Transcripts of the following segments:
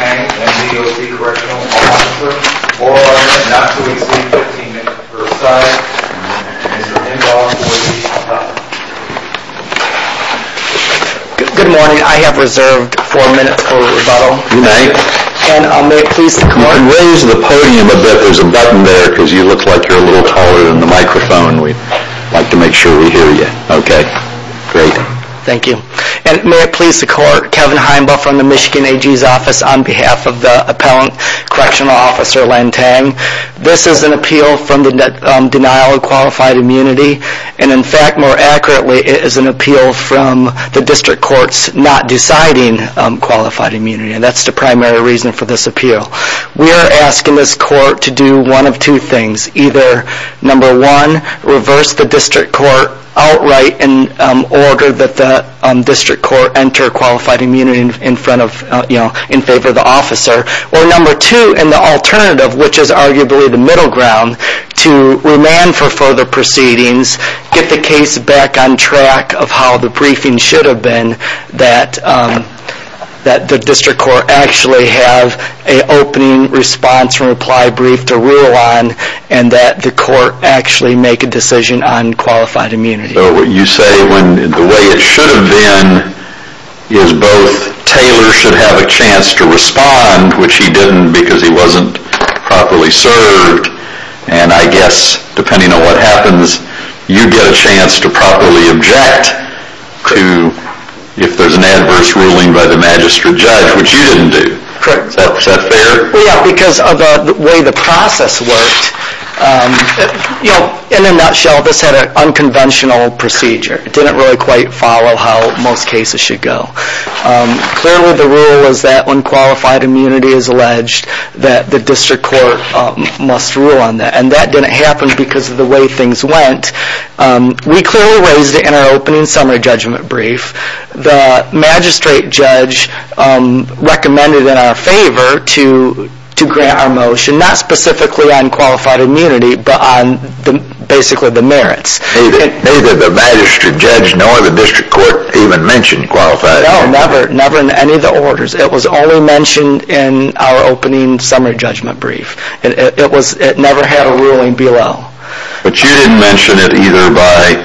and D.O.C. Correctional Officer or not to exceed 15 minutes per side. Mr. Indall, please stop. Good morning. I have reserved four minutes for rebuttal. You may. And may it please the court. I can raise the podium a bit. There's a button there because you look like you're a little taller than the microphone. We'd like to make sure we hear you. Okay. Great. Thank you. And may it please the court. Kevin Heinbaugh from the Michigan AG's office on behalf of the Appellant Correctional Officer Lantagne. This is an appeal from the denial of qualified immunity. And in fact, more accurately, it is an appeal from the district courts not deciding qualified immunity. And that's the primary reason for this appeal. We are asking this court to do one of two things. Either, number one, reverse the district court outright in order that the district court enter qualified immunity in favor of the officer. Or number two, and the alternative, which is arguably the middle ground, to remand for further proceedings, get the case back on track of how the briefing should have been, that the district court actually have an opening response and reply brief to rule on, and that the court actually make a decision on qualified immunity. So you say when the way it should have been is both Taylor should have a chance to respond, which he didn't because he wasn't properly served, and I guess, depending on what happens, you get a chance to properly object to if there's an adverse ruling by the magistrate judge, which you didn't do. Correct. Is that fair? Yeah, because of the way the process worked, you know, in a nutshell, this had an unconventional procedure. It didn't really quite follow how most cases should go. Clearly the rule is that when qualified immunity is alleged that the district court must rule on that, and that didn't happen because of the way things went. We clearly raised it in our opening summary judgment brief. The magistrate judge recommended in our favor to grant our motion, not specifically on qualified immunity, but on basically the merits. Neither the magistrate judge nor the district court even mentioned qualified immunity. No, never, never in any of the orders. It was only mentioned in our opening summary judgment brief. It never had a ruling below. But you didn't mention it either by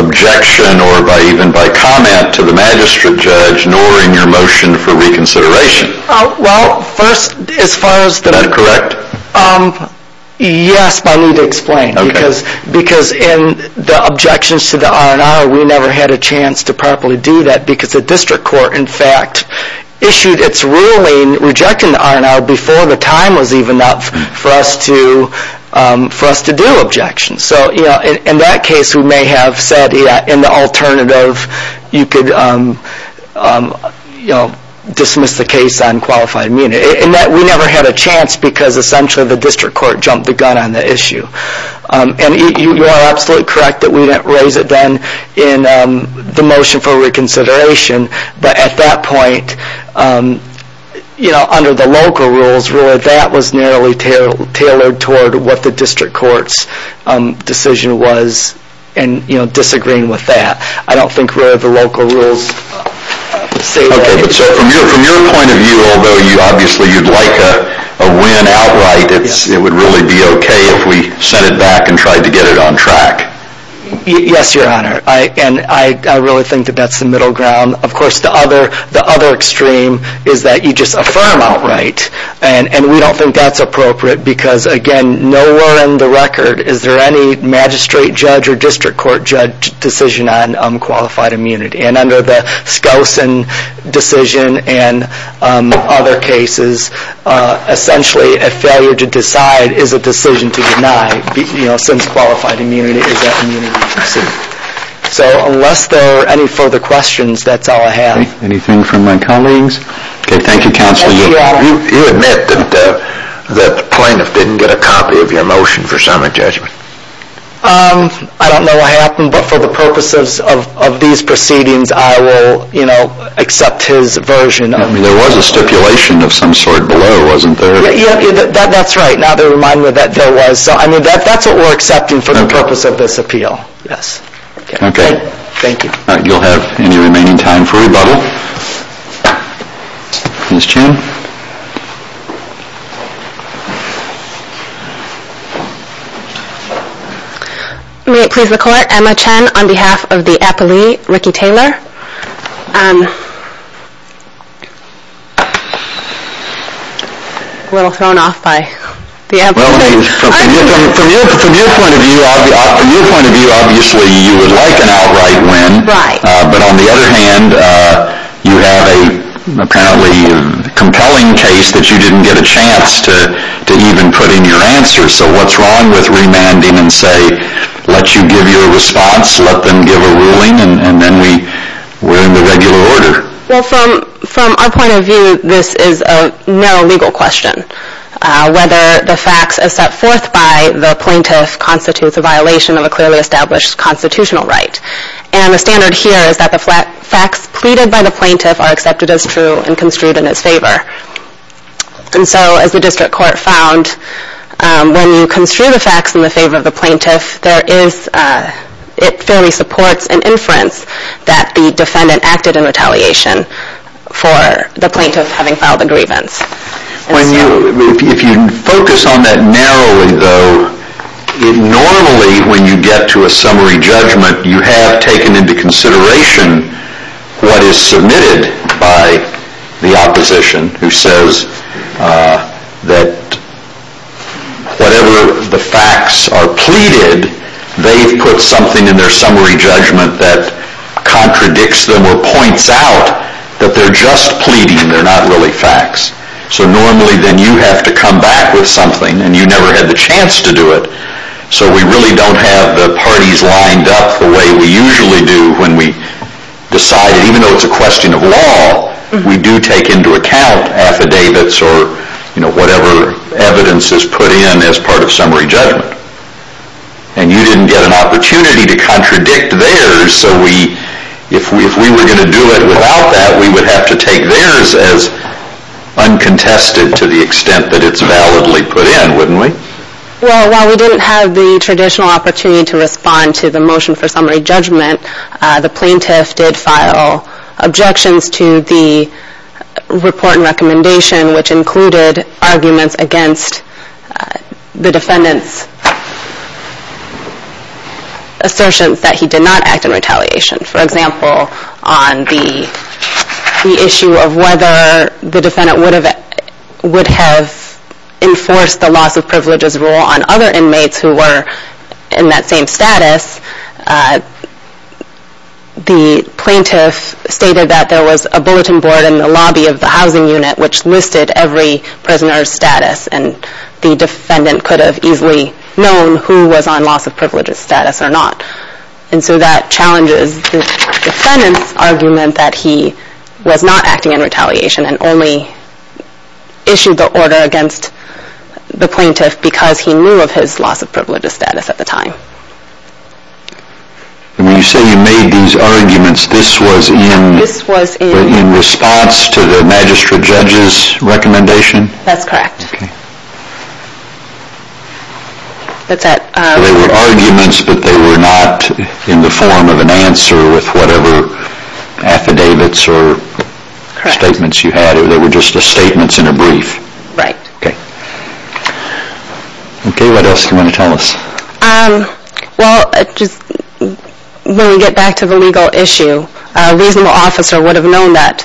objection or even by comment to the magistrate judge nor in your motion for reconsideration. Well, first, as far as the... Is that correct? Yes, but I need to explain. Okay. Because in the objections to the R&R, we never had a chance to properly do that, because the district court, in fact, issued its ruling rejecting the R&R before the time was even up for us to do objections. So, you know, in that case we may have said, yeah, in the alternative you could, you know, dismiss the case on qualified immunity. In that we never had a chance because essentially the district court jumped the gun on the issue. And you are absolutely correct that we didn't raise it then in the motion for reconsideration. But at that point, you know, under the local rules, really that was narrowly tailored toward what the district court's decision was and, you know, disagreeing with that. I don't think where the local rules say that. So from your point of view, although obviously you'd like a win outright, it would really be okay if we sent it back and tried to get it on track. Yes, Your Honor. And I really think that that's the middle ground. Of course, the other extreme is that you just affirm outright. And we don't think that's appropriate because, again, nowhere in the record is there any magistrate judge or district court judge decision on qualified immunity. And under the Skousen decision and other cases, essentially a failure to decide is a decision to deny. You know, since qualified immunity is an immunity procedure. So unless there are any further questions, that's all I have. Anything from my colleagues? Okay, thank you, Counselor. Yes, Your Honor. You admit that the plaintiff didn't get a copy of your motion for summary judgment. I don't know what happened, but for the purposes of these proceedings, I will, you know, accept his version. I mean, there was a stipulation of some sort below, wasn't there? Yeah, that's right. Now they remind me that there was. So I mean, that's what we're accepting for the purpose of this appeal. Yes. Thank you. You'll have any remaining time for rebuttal. Ms. Chen. May it please the Court, Emma Chen on behalf of the appellee, Ricky Taylor. A little thrown off by the appellee. Well, from your point of view, obviously you would like an outright win. Right. But on the other hand, you have an apparently compelling case that you didn't get a chance to even put in your answer. So what's wrong with remanding and say, let you give your response, let them give a ruling, and then we're in the regular order? Well, from our point of view, this is a no legal question. Whether the facts are set forth by the plaintiff constitutes a violation of a clearly established constitutional right. And the standard here is that the facts pleaded by the plaintiff are accepted as true and construed in his favor. And so as the district court found, when you construe the facts in the favor of the plaintiff, it fairly supports an inference that the defendant acted in retaliation for the plaintiff having filed the grievance. If you focus on that narrowly, though, normally when you get to a summary judgment, you have taken into consideration what is submitted by the opposition, who says that whatever the facts are pleaded, they've put something in their summary judgment that contradicts them or points out that they're just pleading. They're not really facts. So normally then you have to come back with something and you never had the chance to do it. So we really don't have the parties lined up the way we usually do when we decide, even though it's a question of law, we do take into account affidavits or whatever evidence is put in as part of summary judgment. And you didn't get an opportunity to contradict theirs, so if we were going to do it without that, we would have to take theirs as uncontested to the extent that it's validly put in, wouldn't we? Well, while we didn't have the traditional opportunity to respond to the motion for summary judgment, the plaintiff did file objections to the report and recommendation, which included arguments against the defendant's assertions that he did not act in retaliation. For example, on the issue of whether the defendant would have enforced the loss of privileges rule on other inmates who were in that same status, the plaintiff stated that there was a bulletin board in the lobby of the housing unit which listed every prisoner's status and the defendant could have easily known who was on loss of privileges status or not. And so that challenges the defendant's argument that he was not acting in retaliation and only issued the order against the plaintiff because he knew of his loss of privileges status at the time. When you say you made these arguments, this was in response to the magistrate judge's recommendation? That's correct. Okay. So they were arguments but they were not in the form of an answer with whatever affidavits or statements you had? They were just statements in a brief? Right. Okay. Okay, what else do you want to tell us? Well, when we get back to the legal issue, a reasonable officer would have known that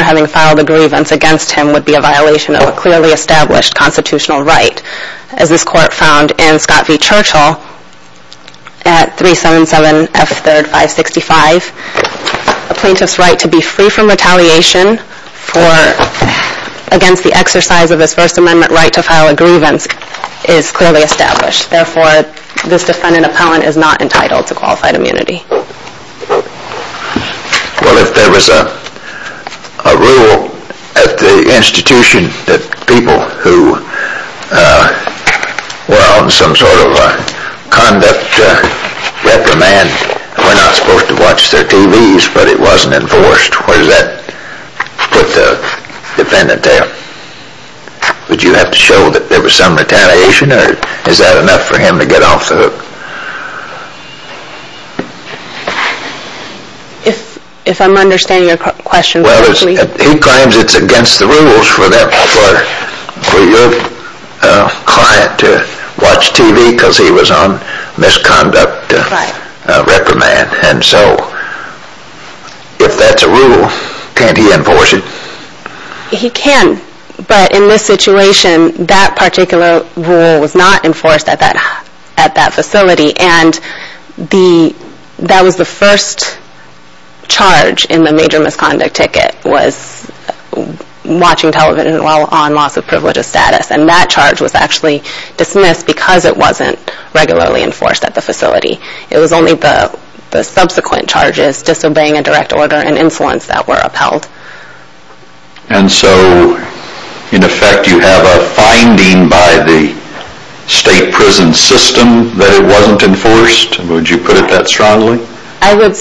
having filed a grievance against him would be a violation of a clearly established constitutional right. As this court found in Scott v. Churchill at 377 F. 3rd 565, a plaintiff's right to be free from retaliation against the exercise of his First Amendment right to file a grievance is clearly established. Therefore, this defendant appellant is not entitled to qualified immunity. Well, if there was a rule at the institution that people who were on some sort of conduct reprimand were not supposed to watch their TVs but it wasn't enforced, where does that put the defendant? Would you have to show that there was some retaliation or is that enough for him to get off the hook? If I'm understanding your question correctly. Well, he claims it's against the rules for your client to watch TV because he was on misconduct reprimand. And so, if that's a rule, can't he enforce it? He can, but in this situation, that particular rule was not enforced at that facility. And that was the first charge in the major misconduct ticket, was watching television while on loss of privilege of status. And that charge was actually dismissed because it wasn't regularly enforced at the facility. It was only the subsequent charges, disobeying a direct order and influence that were upheld. And so, in effect, you have a finding by the state prison system that it wasn't enforced? Would you put it that strongly? I would...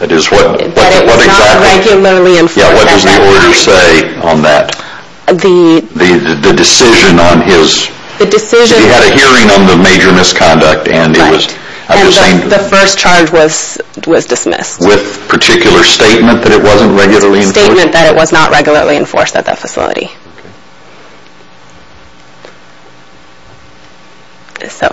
That is, what exactly... That it was not regularly enforced at the facility. Yeah, what does the order say on that? The... The decision on his... Right. And the first charge was dismissed. With particular statement that it wasn't regularly enforced? Statement that it was not regularly enforced at that facility. Okay. So,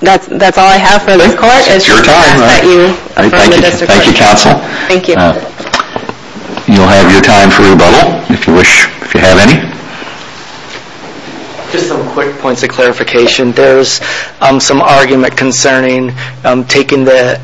that's all I have for this court. I think it's your time. I ask that you affirm the district court. Thank you, counsel. Thank you. You'll have your time for rebuttal, if you wish, if you have any. Just some quick points of clarification. There's some argument concerning taking the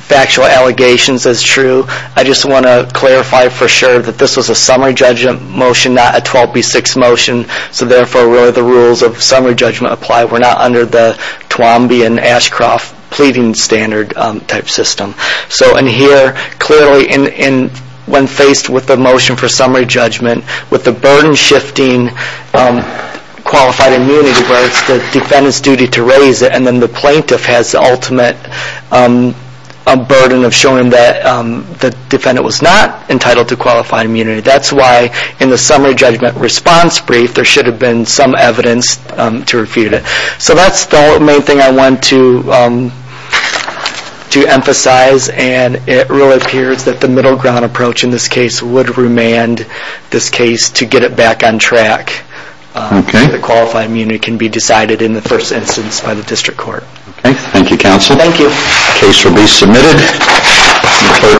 factual allegations as true. I just want to clarify for sure that this was a summary judgment motion, not a 12B6 motion. So, therefore, where the rules of summary judgment apply, we're not under the Twomby and Ashcroft pleading standard type system. So, in here, clearly, when faced with the motion for summary judgment, with the burden shifting qualified immunity, where it's the defendant's duty to raise it, and then the plaintiff has the ultimate burden of showing that the defendant was not entitled to qualified immunity. That's why, in the summary judgment response brief, there should have been some evidence to refute it. So, that's the main thing I want to emphasize. And it really appears that the middle ground approach in this case would remand this case to get it back on track. Okay. The qualified immunity can be decided in the first instance by the district court. Okay. Thank you, counsel. Thank you. The case will be submitted.